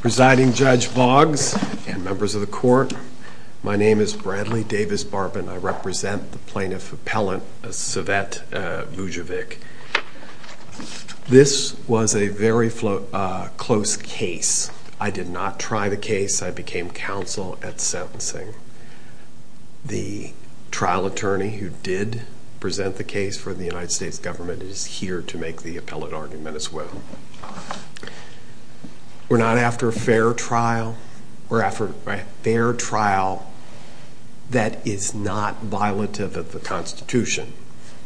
President, Judge Boggs, and members of the Court, my name is Bradley Davis Barbin. I represent the Plaintiff Appellant Svetislav Vujovic. This was a very close case. I did not try the case. I became counsel at sentencing. The trial attorney who did present the case for the United States government is here to make the appellate argument as well. We're not after a fair trial. We're after a fair trial that is not violative of the Constitution.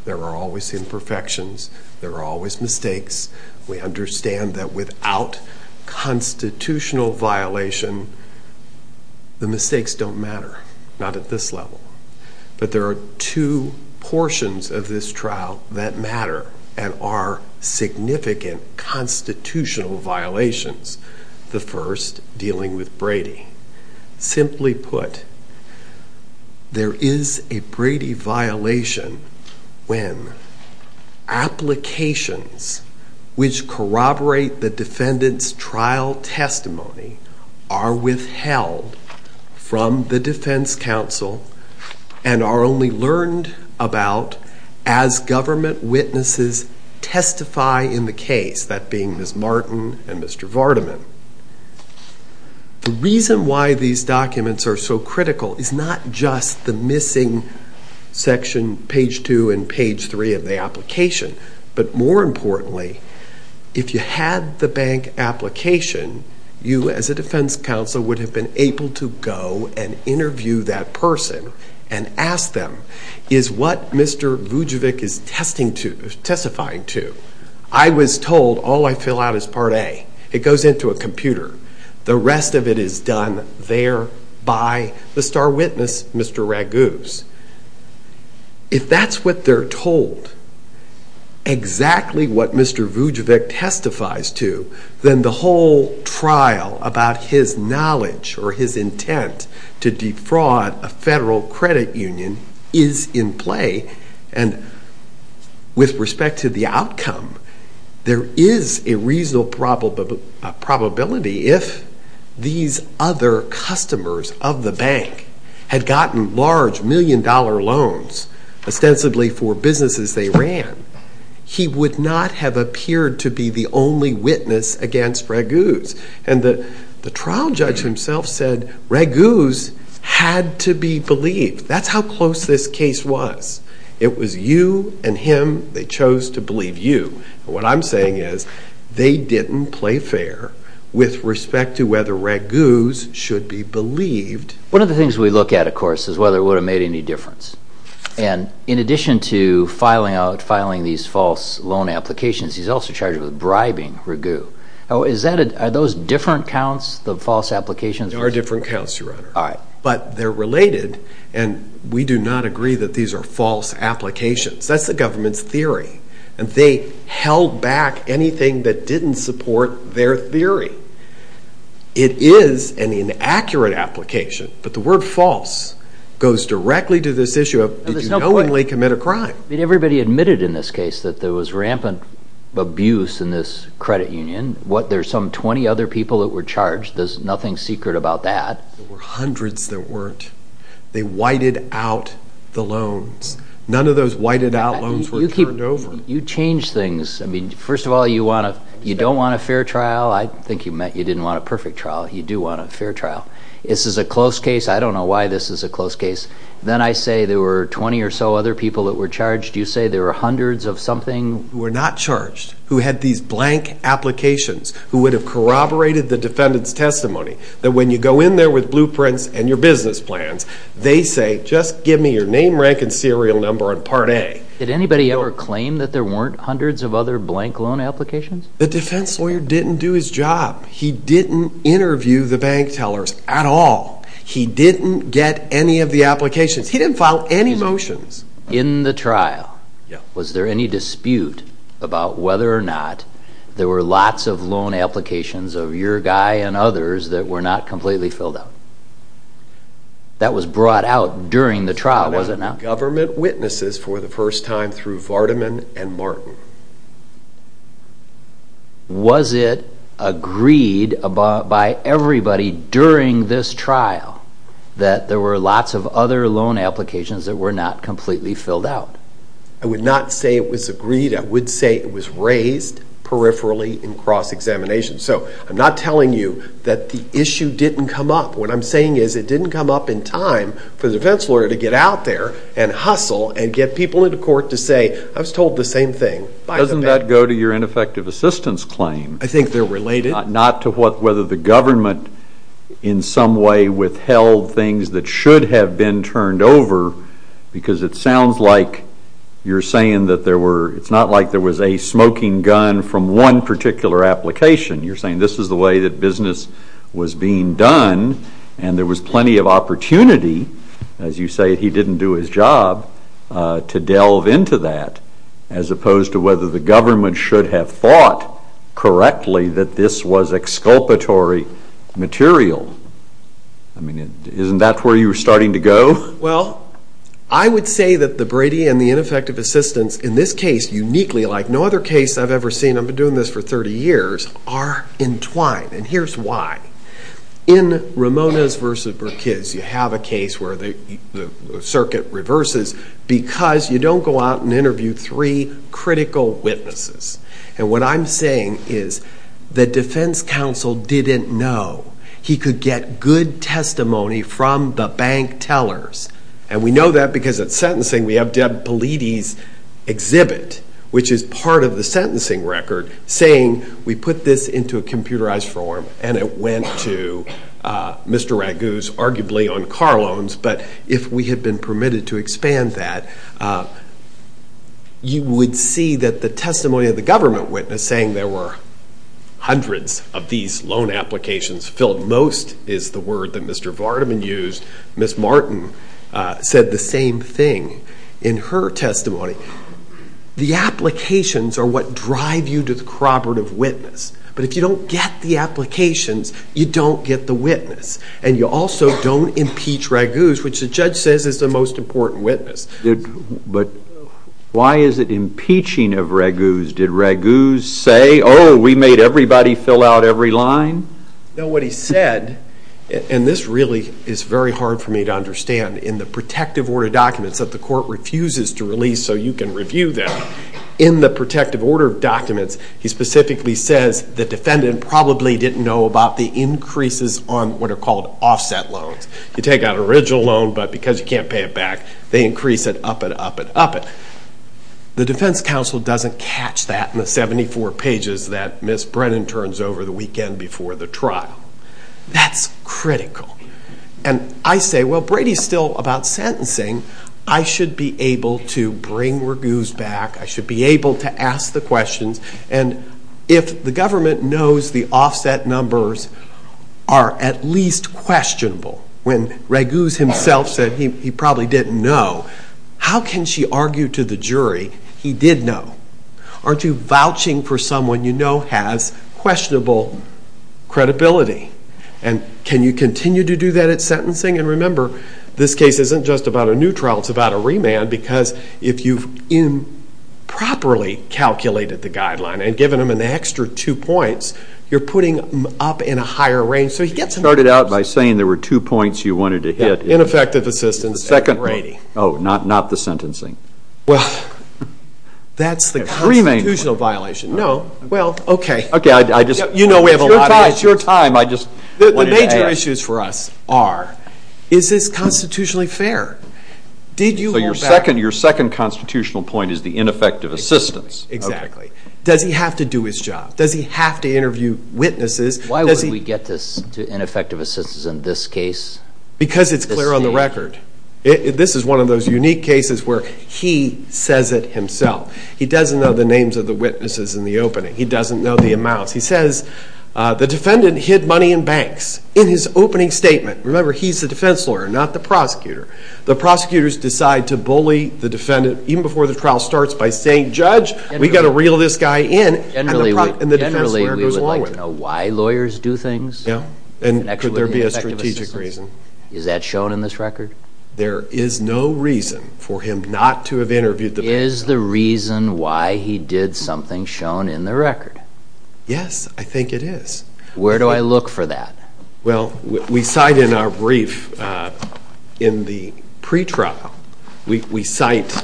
There are always imperfections. There are always mistakes. We understand that without constitutional violation, the mistakes don't matter. Not at this level. But there are two portions of this trial that matter and are significant constitutional violations. The first, dealing with Brady. Simply put, there is a Brady violation when applications which corroborate the defendant's trial testimony are withheld from the defense counsel and are only learned about as government witnesses testify in the case, that being Ms. Martin and Mr. Vardaman. The reason why these documents are so critical is not just the missing section, page 2 and page 3 of the application, but more importantly, if you had the bank application, you as a defense counsel would have been able to go and interview that person. And ask them, is what Mr. Vujovic is testifying to? I was told all I fill out is part A. It goes into a computer. The rest of it is done there by the star witness, Mr. Raguse. If that's what they're told, exactly what Mr. Vujovic testifies to, then the whole trial about his knowledge or his intent to defraud a federal credit union is in play. And with respect to the outcome, there is a reasonable probability if these other customers of the bank had gotten large million-dollar loans, ostensibly for businesses they ran, he would not have appeared to be the only witness against Raguse. And the trial judge himself said, Raguse had to be believed. That's how close this case was. It was you and him. They chose to believe you. What I'm saying is, they didn't play fair with respect to whether Raguse should be believed. One of the things we look at, of course, is whether it would have made any difference. And in addition to filing out, filing these false loan applications, he's also charged with bribing Raguse. Are those different counts, the false applications? They are different counts, Your Honor. But they're related, and we do not agree that these are false applications. That's the government's theory. And they held back anything that didn't support their theory. It is an inaccurate application, but the word false goes directly to this issue of, did you knowingly commit a crime? Everybody admitted in this case that there was rampant abuse in this credit union. There's some 20 other people that were charged. There's nothing secret about that. There were hundreds that weren't. They whited out the loans. None of those whited out loans were turned over. You change things. First of all, you don't want a fair trial. I think you meant you didn't want a perfect trial. You do want a fair trial. This is a close case. I don't know why this is a close case. Then I say there were 20 or so other people that were charged. You say there were hundreds of something? Who were not charged. Who had these blank applications. Who would have corroborated the defendant's testimony. That when you go in there with blueprints and your business plans, they say, just give me your name, rank, and serial number on Part A. Did anybody ever claim that there weren't hundreds of other blank loan applications? The defense lawyer didn't do his job. He didn't interview the bank tellers at all. He didn't get any of the applications. He didn't file any motions. In the trial, was there any dispute about whether or not there were lots of loan applications of your guy and others that were not completely filled out? That was brought out during the trial, was it not? Government witnesses for the first time through Vardaman and Martin. Was it agreed by everybody during this trial that there were lots of other loan applications that were not completely filled out? I would not say it was agreed. I would say it was raised peripherally in cross-examination. So, I'm not telling you that the issue didn't come up. What I'm saying is it didn't come up in time for the defense lawyer to get out there and hustle and get people into court to say, I was told the same thing by the bank. I think they're related. Not to whether the government in some way withheld things that should have been turned over because it sounds like you're saying that there were, it's not like there was a smoking gun from one particular application. You're saying this is the way that business was being done and there was plenty of opportunity, as you say, he didn't do his job, to delve into that as opposed to whether the government should have thought correctly that this was exculpatory material. I mean, isn't that where you were starting to go? Well, I would say that the Brady and the ineffective assistance in this case uniquely, like no other case I've ever seen, I've been doing this for 30 years, are entwined. And here's why. In Ramones v. Burkis, you have a case where the circuit reverses because you don't go out and interview three critical witnesses. And what I'm saying is the defense counsel didn't know he could get good testimony from the bank tellers. And we know that because at sentencing we have Deb Peledy's exhibit, which is part of the sentencing record, saying we put this into a computerized form and it went to Mr. Raguse, arguably on car loans, but if we had been permitted to expand that, you would see that the testimony of the government witness saying there were hundreds of these loan applications filled most is the word that Mr. Vardaman used. Ms. Martin said the same thing in her testimony. The applications are what drive you to the corroborative witness, but if you don't get the applications, you don't get the witness. And you also don't impeach Raguse, which the judge says is the most important witness. But why is it impeaching of Raguse? Did Raguse say, oh, we made everybody fill out every line? No, what he said, and this really is very hard for me to understand, in the protective order documents that the court refuses to release so you can review them, in the protective order documents he specifically says the defendant probably didn't know about the increases on what are called offset loans. You take out an original loan, but because you can't pay it back, they increase it up and up and up. The defense counsel doesn't catch that in the 74 pages that Ms. Brennan turns over the weekend before the trial. That's critical. And I say, well, Brady's still about sentencing. I should be able to bring Raguse back. I should be able to ask the questions. And if the government knows the offset numbers are at least questionable, when Raguse himself said he probably didn't know, how can she argue to the jury he did know? Aren't you vouching for someone you know has questionable credibility? And can you continue to do that at sentencing? And remember, this case isn't just about a new trial, it's about a remand, because if you've improperly calculated the guideline and given him an extra two points, you're putting him up in a higher range. You started out by saying there were two points you wanted to hit. Ineffective assistance and Brady. Oh, not the sentencing. Well, that's the constitutional violation. Remand. No. Well, okay. You know we have a lot of issues. It's your time. The major issues for us are, is this constitutionally fair? So your second constitutional point is the ineffective assistance. Exactly. Does he have to do his job? Does he have to interview witnesses? Why would we get this to ineffective assistance in this case? Because it's clear on the record. This is one of those unique cases where he says it himself. He doesn't know the names of the witnesses in the opening. He doesn't know the amounts. He says the defendant hid money in banks in his opening statement. Remember, he's the defense lawyer, not the prosecutor. The prosecutors decide to bully the defendant even before the trial starts by saying, Judge, we've got to reel this guy in, and the defense lawyer goes along with it. Generally, we would like to know why lawyers do things. Yeah. And could there be a strategic reason? Is that shown in this record? There is no reason for him not to have interviewed the defendant. Is the reason why he did something shown in the record? Yes, I think it is. Where do I look for that? Well, we cite in our brief, in the pre-trial, we cite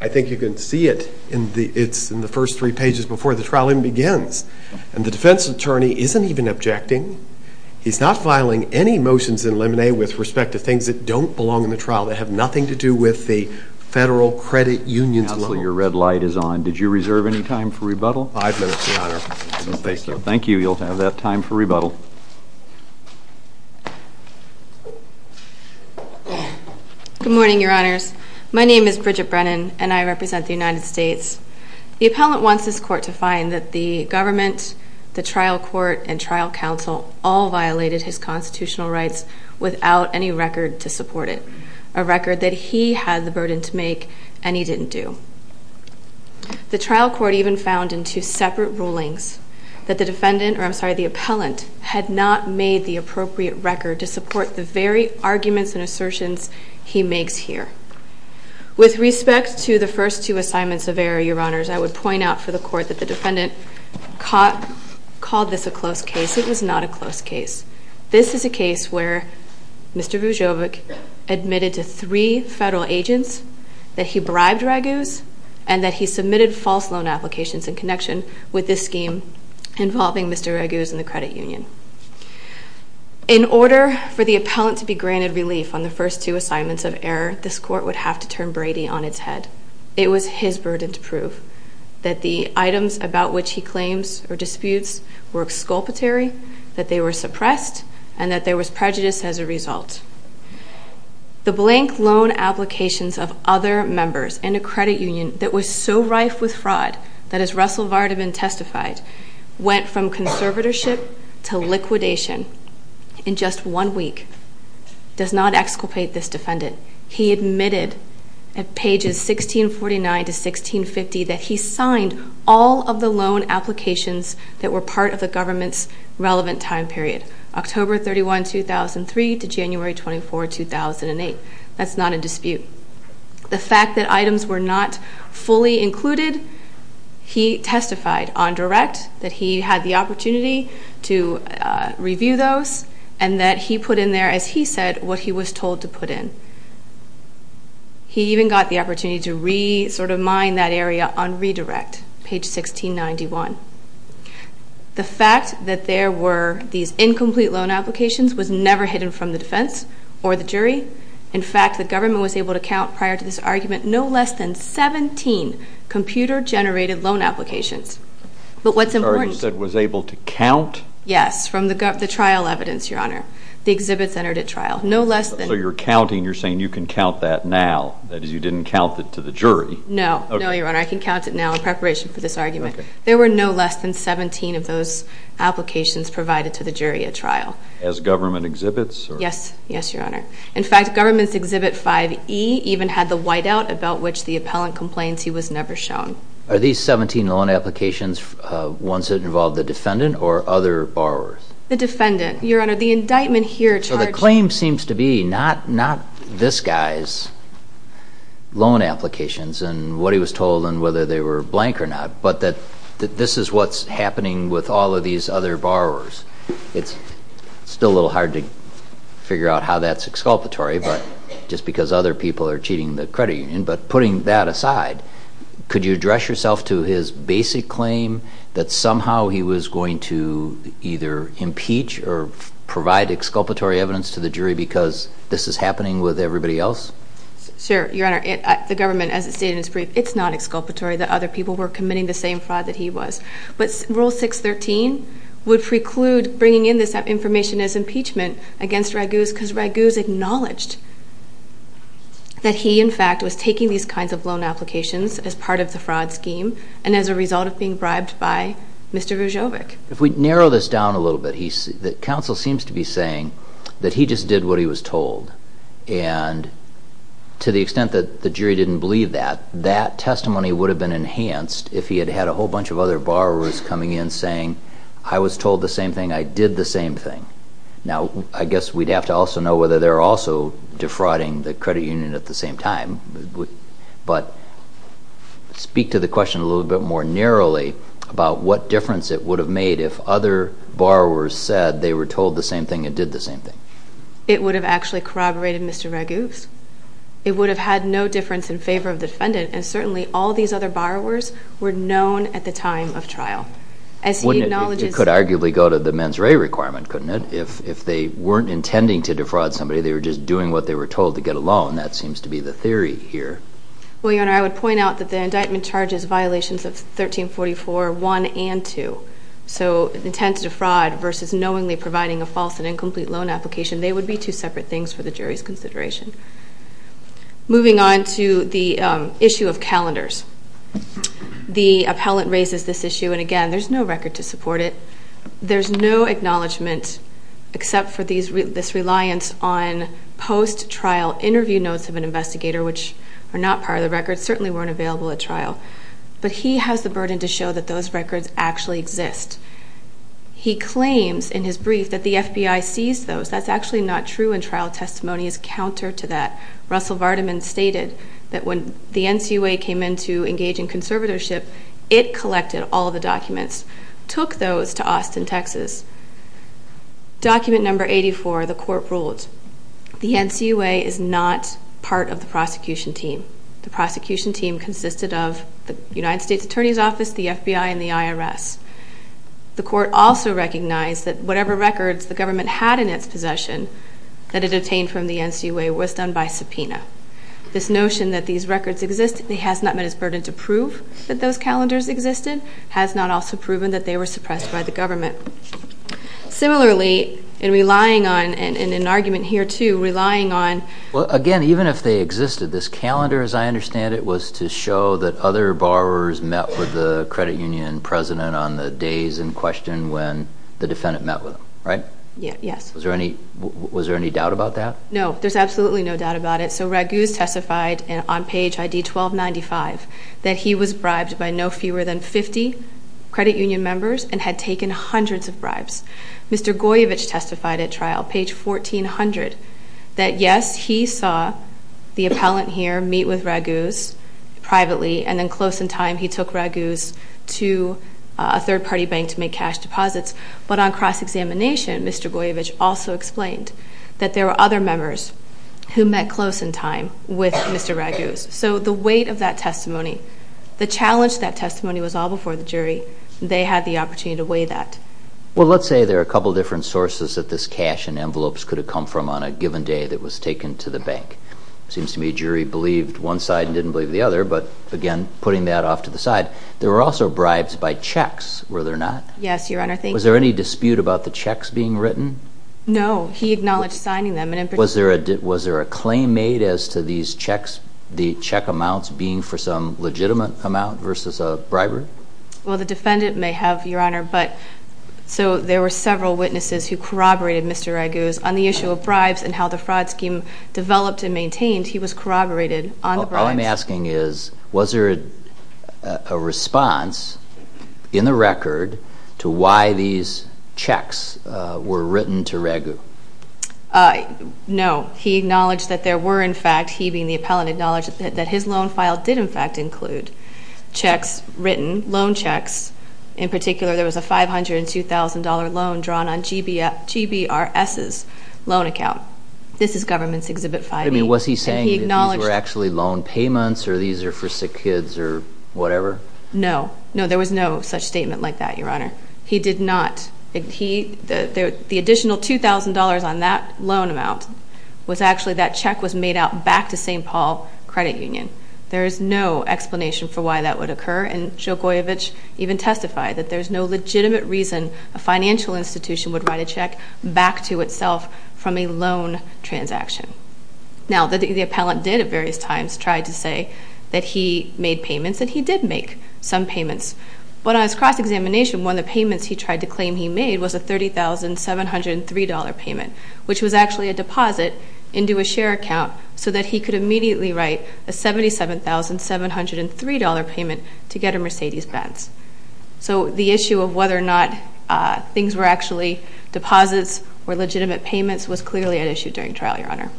I think you can see it. It's in the first three pages before the trial even begins. And the defense attorney isn't even objecting. He's not filing any motions in limine with respect to things that don't belong in the trial, that have nothing to do with the federal credit union's loans. Counselor, your red light is on. Did you reserve any time for rebuttal? Five minutes, Your Honor. Thank you. Thank you. You'll have that time for rebuttal. Good morning, Your Honors. My name is Bridget Brennan, and I represent the United States. The appellant wants this court to find that the government, the trial court, and trial counsel all violated his constitutional rights without any record to support it, a record that he had the burden to make and he didn't do. The trial court even found in two separate rulings that the defendant, or I'm sorry, the appellant, had not made the appropriate record to support the very arguments and assertions he makes here. With respect to the first two assignments of error, Your Honors, I would point out for the court that the defendant called this a close case. It was not a close case. This is a case where Mr. Vujovic admitted to three federal agents that he bribed Raguse and that he submitted false loan applications in connection with this scheme involving Mr. Raguse and the credit union. In order for the appellant to be granted relief on the first two assignments of error, this court would have to turn Brady on its head. It was his burden to prove that the items about which he claims or disputes were exculpatory, that they were suppressed, and that there was prejudice as a result. The blank loan applications of other members in a credit union that was so rife with fraud that, as Russell Vardaman testified, went from conservatorship to liquidation in just one week, does not exculpate this defendant. He admitted at pages 1649 to 1650 that he signed all of the loan applications that were part of the government's relevant time period, October 31, 2003 to January 24, 2008. That's not a dispute. The fact that items were not fully included, he testified on direct that he had the opportunity to review those and that he put in there, as he said, what he was told to put in. He even got the opportunity to re-mine that area on redirect, page 1691. The fact that there were these incomplete loan applications was never hidden from the defense or the jury. In fact, the government was able to count, prior to this argument, no less than 17 computer-generated loan applications. But what's important... Sorry, you said was able to count? Yes, from the trial evidence, Your Honor. The exhibits entered at trial. No less than... So you're counting, you're saying you can count that now. That is, you didn't count it to the jury. No. No, Your Honor. I can count it now in preparation for this argument. There were no less than 17 of those applications provided to the jury at trial. As government exhibits? Yes. Yes, Your Honor. In fact, government's exhibit 5E even had the whiteout about which the appellant complains he was never shown. Are these 17 loan applications ones that involved the defendant or other borrowers? The defendant, Your Honor. The indictment here charged... So the claim seems to be not this guy's loan applications and what he was told and whether they were blank or not, but that this is what's happening with all of these other borrowers. It's still a little hard to figure out how that's exculpatory, but just because other people are cheating the credit union. But putting that aside, could you address yourself to his basic claim that somehow he was going to either impeach or provide exculpatory evidence to the jury because this is happening with everybody else? Sure, Your Honor. The government, as it stated in its brief, it's not exculpatory that other people were committing the same fraud that he was. But Rule 613 would preclude bringing in this information as impeachment against Raguse because Raguse acknowledged that he, in fact, was taking these kinds of loan applications as part of the fraud scheme and as a result of being bribed by Mr. Ruzovic. If we narrow this down a little bit, the counsel seems to be saying that he just did what he was told. And to the extent that the jury didn't believe that, that testimony would have been enhanced if he had had a whole bunch of other borrowers coming in saying, I was told the same thing, I did the same thing. Now, I guess we'd have to also know whether they're also defrauding the credit union at the same time. But speak to the question a little bit more narrowly about what difference it would have made if other borrowers said they were told the same thing and did the same thing. It would have actually corroborated Mr. Raguse. It would have had no difference in favor of the defendant, and certainly all these other borrowers were known at the time of trial. It could arguably go to the mens rea requirement, couldn't it? If they weren't intending to defraud somebody, they were just doing what they were told to get a loan. That seems to be the theory here. Well, Your Honor, I would point out that the indictment charges violations of 1344.1 and 2. So intent to defraud versus knowingly providing a false and incomplete loan application, they would be two separate things for the jury's consideration. Moving on to the issue of calendars. The appellant raises this issue, and again, there's no record to support it. There's no acknowledgment except for this reliance on post-trial interview notes of an investigator, which are not part of the record, certainly weren't available at trial. But he has the burden to show that those records actually exist. He claims in his brief that the FBI seized those. That's actually not true, and trial testimony is counter to that. Russell Vardiman stated that when the NCUA came in to engage in conservatorship, it collected all the documents, took those to Austin, Texas. Document number 84, the court ruled the NCUA is not part of the prosecution team. The prosecution team consisted of the United States Attorney's Office, the FBI, and the IRS. The court also recognized that whatever records the government had in its possession that it obtained from the NCUA was done by subpoena. This notion that these records exist has not met its burden to prove that those calendars existed, has not also proven that they were suppressed by the government. Similarly, in relying on, and in an argument here too, relying on… Well, again, even if they existed, this calendar, as I understand it, was to show that other borrowers met with the credit union president on the days in question when the defendant met with him, right? Yes. Was there any doubt about that? No, there's absolutely no doubt about it. So Raguse testified on page ID 1295 that he was bribed by no fewer than 50 credit union members and had taken hundreds of bribes. Mr. Goyevich testified at trial, page 1400, that yes, he saw the appellant here meet with Raguse privately and then close in time he took Raguse to a third-party bank to make cash deposits. But on cross-examination, Mr. Goyevich also explained that there were other members who met close in time with Mr. Raguse. So the weight of that testimony, the challenge of that testimony was all before the jury. They had the opportunity to weigh that. Well, let's say there are a couple of different sources that this cash and envelopes could have come from on a given day that was taken to the bank. It seems to me a jury believed one side and didn't believe the other, but again, putting that off to the side. There were also bribes by checks, were there not? Yes, Your Honor. Was there any dispute about the checks being written? No, he acknowledged signing them. Was there a claim made as to these checks, the check amounts being for some legitimate amount versus a bribery? Well, the defendant may have, Your Honor, but so there were several witnesses who corroborated Mr. Raguse. On the issue of bribes and how the fraud scheme developed and maintained, he was corroborated on the bribes. All I'm asking is, was there a response in the record to why these checks were written to Raguse? No. He acknowledged that there were, in fact, he being the appellant, acknowledged that his loan file did, in fact, include checks written, loan checks. In particular, there was a $502,000 loan drawn on GBRS's loan account. This is Government's Exhibit 5E. I mean, was he saying that these were actually loan payments or these are for sick kids or whatever? No. No, there was no such statement like that, Your Honor. He did not. The additional $2,000 on that loan amount was actually, that check was made out back to St. Paul Credit Union. There is no explanation for why that would occur, and Joe Goyevich even testified that there's no legitimate reason a financial institution would write a check back to itself from a loan transaction. Now, the appellant did at various times try to say that he made payments and he did make some payments. But on his cross-examination, one of the payments he tried to claim he made was a $30,703 payment, which was actually a deposit into a share account so that he could immediately write a $77,703 payment to get a Mercedes-Benz. So the issue of whether or not things were actually deposits or legitimate payments was clearly at issue during trial, Your Honor.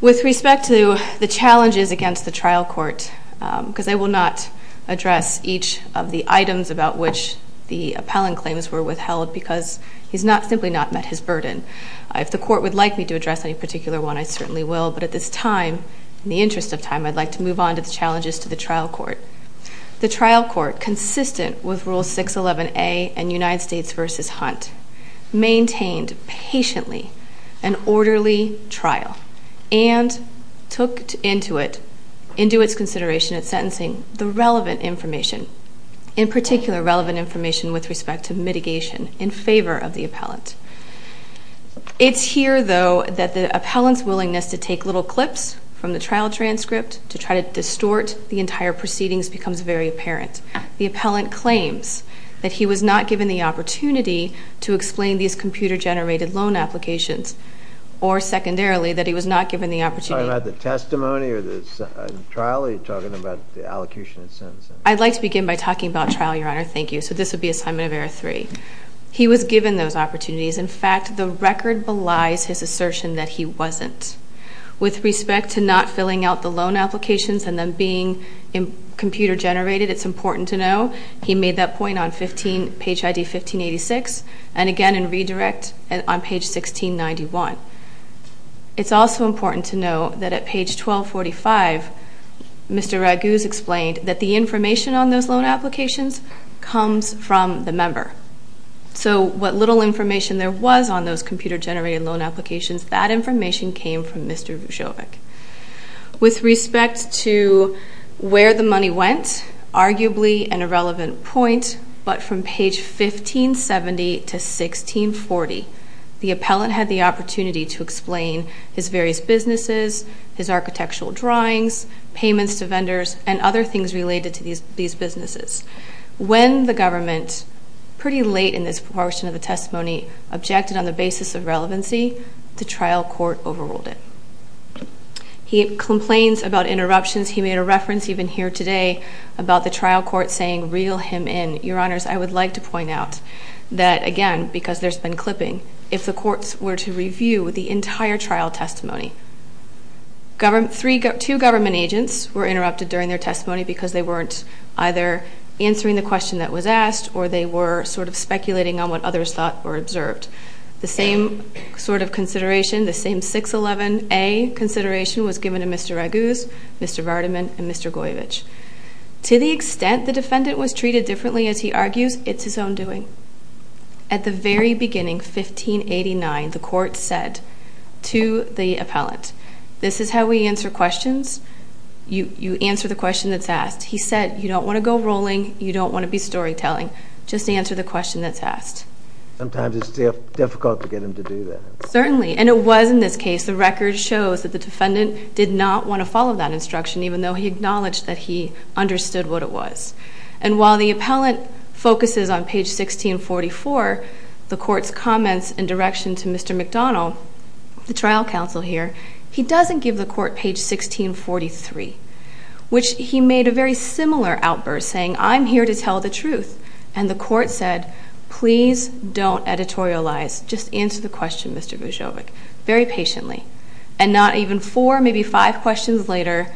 With respect to the challenges against the trial court, because I will not address each of the items about which the appellant claims were withheld because he's simply not met his burden. If the court would like me to address any particular one, I certainly will. But at this time, in the interest of time, I'd like to move on to the challenges to the trial court. The trial court, consistent with Rule 611A and United States v. Hunt, maintained patiently an orderly trial and took into its consideration at sentencing the relevant information, in particular relevant information with respect to mitigation, in favor of the appellant. It's here, though, that the appellant's willingness to take little clips from the trial transcript to try to distort the entire proceedings becomes very apparent. The appellant claims that he was not given the opportunity to explain these computer-generated loan applications or, secondarily, that he was not given the opportunity. Are you talking about the testimony or the trial, or are you talking about the allocution at sentencing? I'd like to begin by talking about trial, Your Honor. Thank you. So this would be Assignment of Error 3. He was given those opportunities. In fact, the record belies his assertion that he wasn't. With respect to not filling out the loan applications and them being computer-generated, it's important to know he made that point on page ID 1586 and, again, in redirect, on page 1691. It's also important to know that at page 1245, Mr. Raguse explained that the information on those loan applications comes from the member. So what little information there was on those computer-generated loan applications, that information came from Mr. Vujovic. With respect to where the money went, arguably an irrelevant point, but from page 1570 to 1640, the appellant had the opportunity to explain his various businesses, his architectural drawings, payments to vendors, and other things related to these businesses. When the government, pretty late in this portion of the testimony, objected on the basis of relevancy, the trial court overruled it. He complains about interruptions. He made a reference even here today about the trial court saying, reel him in. Your Honors, I would like to point out that, again, because there's been clipping, if the courts were to review the entire trial testimony, two government agents were interrupted during their testimony because they weren't either answering the question that was asked or they were sort of speculating on what others thought or observed. The same sort of consideration, the same 611A consideration was given to Mr. Raguse, Mr. Vardiman, and Mr. Goyovic. To the extent the defendant was treated differently, as he argues, it's his own doing. At the very beginning, 1589, the court said to the appellant, this is how we answer questions, you answer the question that's asked. He said, you don't want to go rolling, you don't want to be storytelling, just answer the question that's asked. Sometimes it's difficult to get him to do that. Certainly, and it was in this case. The record shows that the defendant did not want to follow that instruction, even though he acknowledged that he understood what it was. And while the appellant focuses on page 1644, the court's comments and direction to Mr. McDonald, the trial counsel here, he doesn't give the court page 1643, which he made a very similar outburst saying, I'm here to tell the truth. And the court said, please don't editorialize, just answer the question, Mr. Vujovic, very patiently. And not even four, maybe five questions later,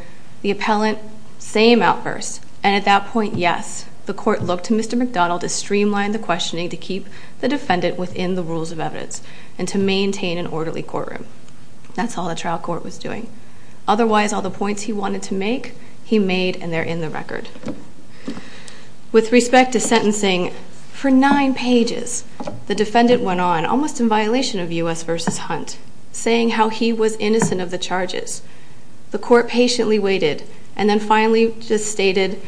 the appellant, same outburst. And at that point, yes, the court looked to Mr. McDonald to streamline the questioning to keep the defendant within the rules of evidence and to maintain an orderly courtroom. That's all the trial court was doing. Otherwise, all the points he wanted to make, he made, and they're in the record. With respect to sentencing, for nine pages, the defendant went on, almost in violation of U.S. v. Hunt, saying how he was innocent of the charges. The court patiently waited and then finally just stated,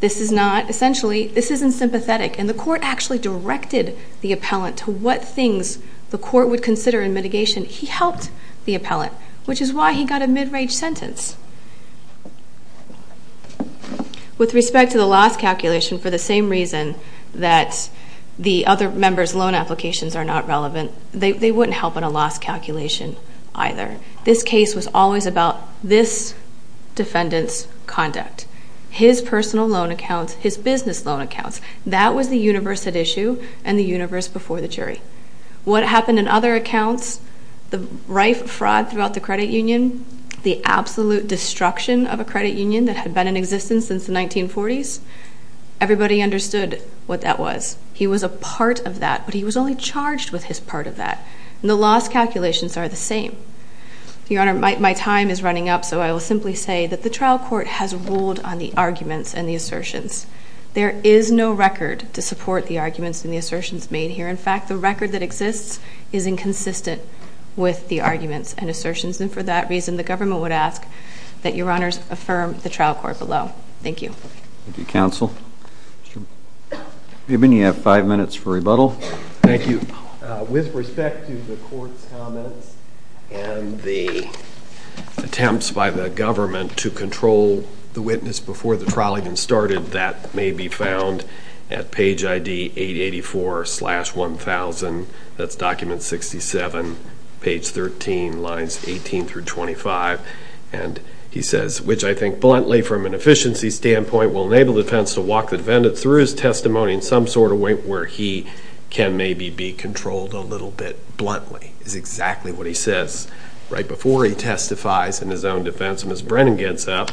this is not, essentially, this isn't sympathetic. And the court actually directed the appellant to what things the court would consider in mitigation. He helped the appellant, which is why he got a mid-range sentence. With respect to the loss calculation, for the same reason that the other members' loan applications are not relevant, they wouldn't help in a loss calculation either. This case was always about this defendant's conduct, his personal loan accounts, his business loan accounts. That was the universe at issue and the universe before the jury. What happened in other accounts, the rife fraud throughout the credit union, the absolute destruction of a credit union that had been in existence since the 1940s, everybody understood what that was. He was a part of that, but he was only charged with his part of that. And the loss calculations are the same. Your Honor, my time is running up, so I will simply say that the trial court has ruled on the arguments and the assertions. There is no record to support the arguments and the assertions made here. In fact, the record that exists is inconsistent with the arguments and assertions. And for that reason, the government would ask that Your Honors affirm the trial court below. Thank you. Thank you, counsel. Ruben, you have five minutes for rebuttal. Thank you. With respect to the court's comments and the attempts by the government to control the witness before the trial even started, that may be found at page ID 884-1000. That's document 67. Page 13, lines 18 through 25. And he says, which I think bluntly from an efficiency standpoint will enable the defense to walk the defendant through his testimony in some sort of way where he can maybe be controlled a little bit bluntly, is exactly what he says right before he testifies in his own defense. And as Brennan gets up.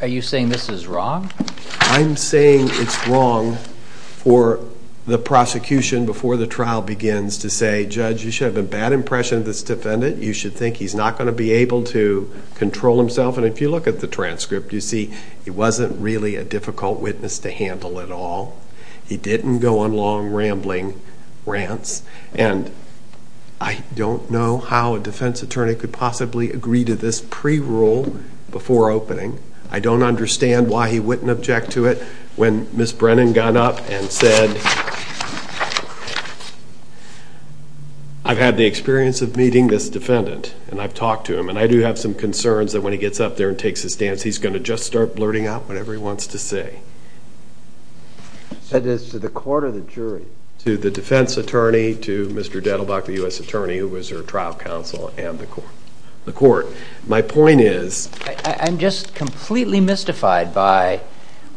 Are you saying this is wrong? I'm saying it's wrong for the prosecution before the trial begins to say, Judge, you should have a bad impression of this defendant. You should think he's not going to be able to control himself. And if you look at the transcript, you see he wasn't really a difficult witness to handle at all. He didn't go on long rambling rants. And I don't know how a defense attorney could possibly agree to this pre-rule before opening. I don't understand why he wouldn't object to it when Ms. Brennan got up and said, I've had the experience of meeting this defendant, and I've talked to him, and I do have some concerns that when he gets up there and takes his stance, he's going to just start blurting out whatever he wants to say. Is that to the court or the jury? To the defense attorney, to Mr. Dettelbach, the U.S. attorney who was her trial counsel, and the court. My point is... I'm just completely mystified by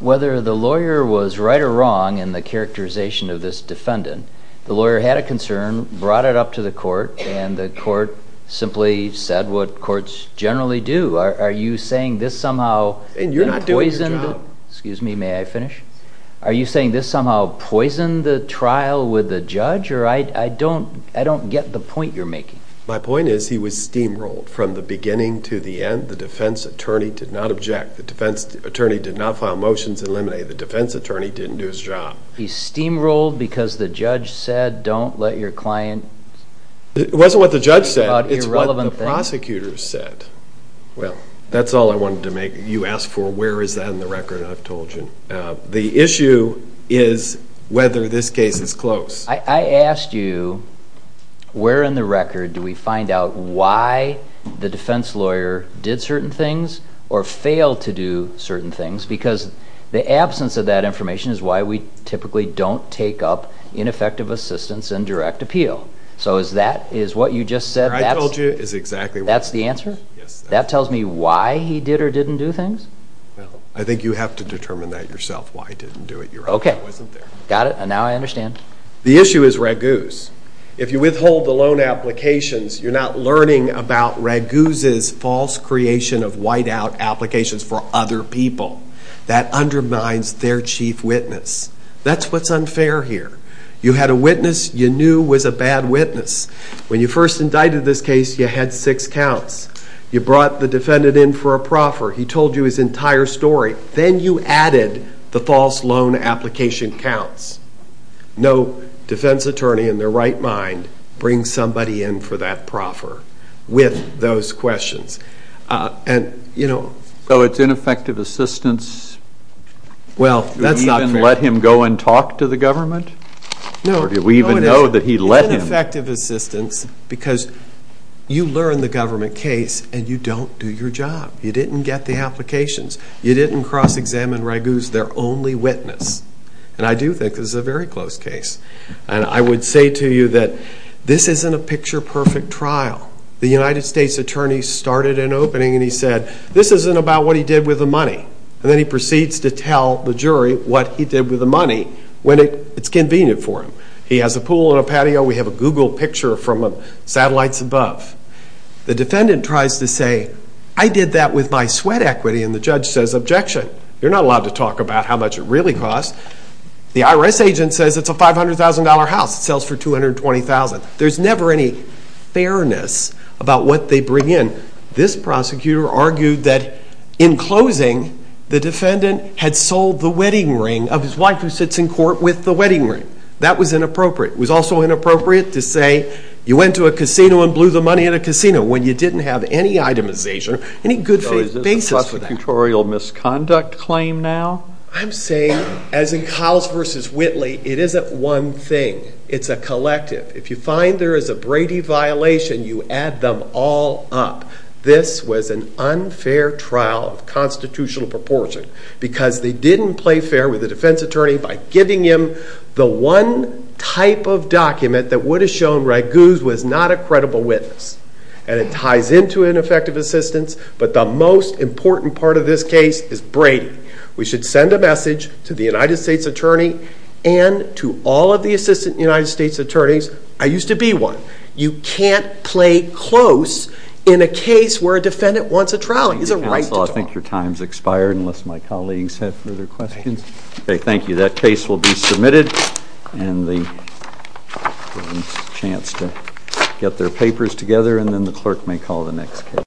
whether the lawyer was right or wrong in the characterization of this defendant. The lawyer had a concern, brought it up to the court, and the court simply said what courts generally do. Are you saying this somehow poisoned the trial with the judge? Or I don't get the point you're making. My point is he was steamrolled from the beginning to the end. The defense attorney did not object. The defense attorney did not file motions to eliminate. The defense attorney didn't do his job. He steamrolled because the judge said don't let your client... It wasn't what the judge said. It's what the prosecutors said. Well, that's all I wanted to make. You asked for where is that in the record, and I've told you. The issue is whether this case is close. I asked you where in the record do we find out why the defense lawyer did certain things or failed to do certain things because the absence of that information is why we typically don't take up ineffective assistance in direct appeal. So is that what you just said? That's the answer? That tells me why he did or didn't do things? I think you have to determine that yourself, why he didn't do it. Got it, and now I understand. The issue is Raguse. If you withhold the loan applications, you're not learning about Raguse's false creation of whiteout applications for other people. That undermines their chief witness. That's what's unfair here. You had a witness you knew was a bad witness. When you first indicted this case, you had six counts. You brought the defendant in for a proffer. He told you his entire story. Then you added the false loan application counts. No defense attorney in their right mind brings somebody in for that proffer with those questions. So it's ineffective assistance? Do we even let him go and talk to the government? Or do we even know that he let him? It's ineffective assistance because you learn the government case and you don't do your job. You didn't get the applications. You didn't cross-examine Raguse, their only witness. And I do think this is a very close case. And I would say to you that this isn't a picture-perfect trial. The United States attorney started an opening and he said, this isn't about what he did with the money. And then he proceeds to tell the jury what he did with the money when it's convenient for him. He has a pool and a patio. We have a Google picture from satellites above. The defendant tries to say, I did that with my sweat equity. And the judge says, objection. You're not allowed to talk about how much it really costs. The IRS agent says it's a $500,000 house. It sells for $220,000. There's never any fairness about what they bring in. This prosecutor argued that in closing, the defendant had sold the wedding ring of his wife who sits in court with the wedding ring. That was inappropriate. It was also inappropriate to say you went to a casino and blew the money in a casino when you didn't have any itemization, any good basis for that. So is this a prosecutorial misconduct claim now? I'm saying, as in Cowles v. Whitley, it isn't one thing. It's a collective. If you find there is a Brady violation, you add them all up. This was an unfair trial of constitutional proportion. Because they didn't play fair with the defense attorney by giving him the one type of document that would have shown Raguse was not a credible witness. And it ties into ineffective assistance. But the most important part of this case is Brady. We should send a message to the United States Attorney and to all of the Assistant United States Attorneys. I used to be one. You can't play close in a case where a defendant wants a trial. He has a right to trial. Counsel, I think your time has expired, unless my colleagues have further questions. Thank you. That case will be submitted. And we'll give them a chance to get their papers together. And then the clerk may call the next case.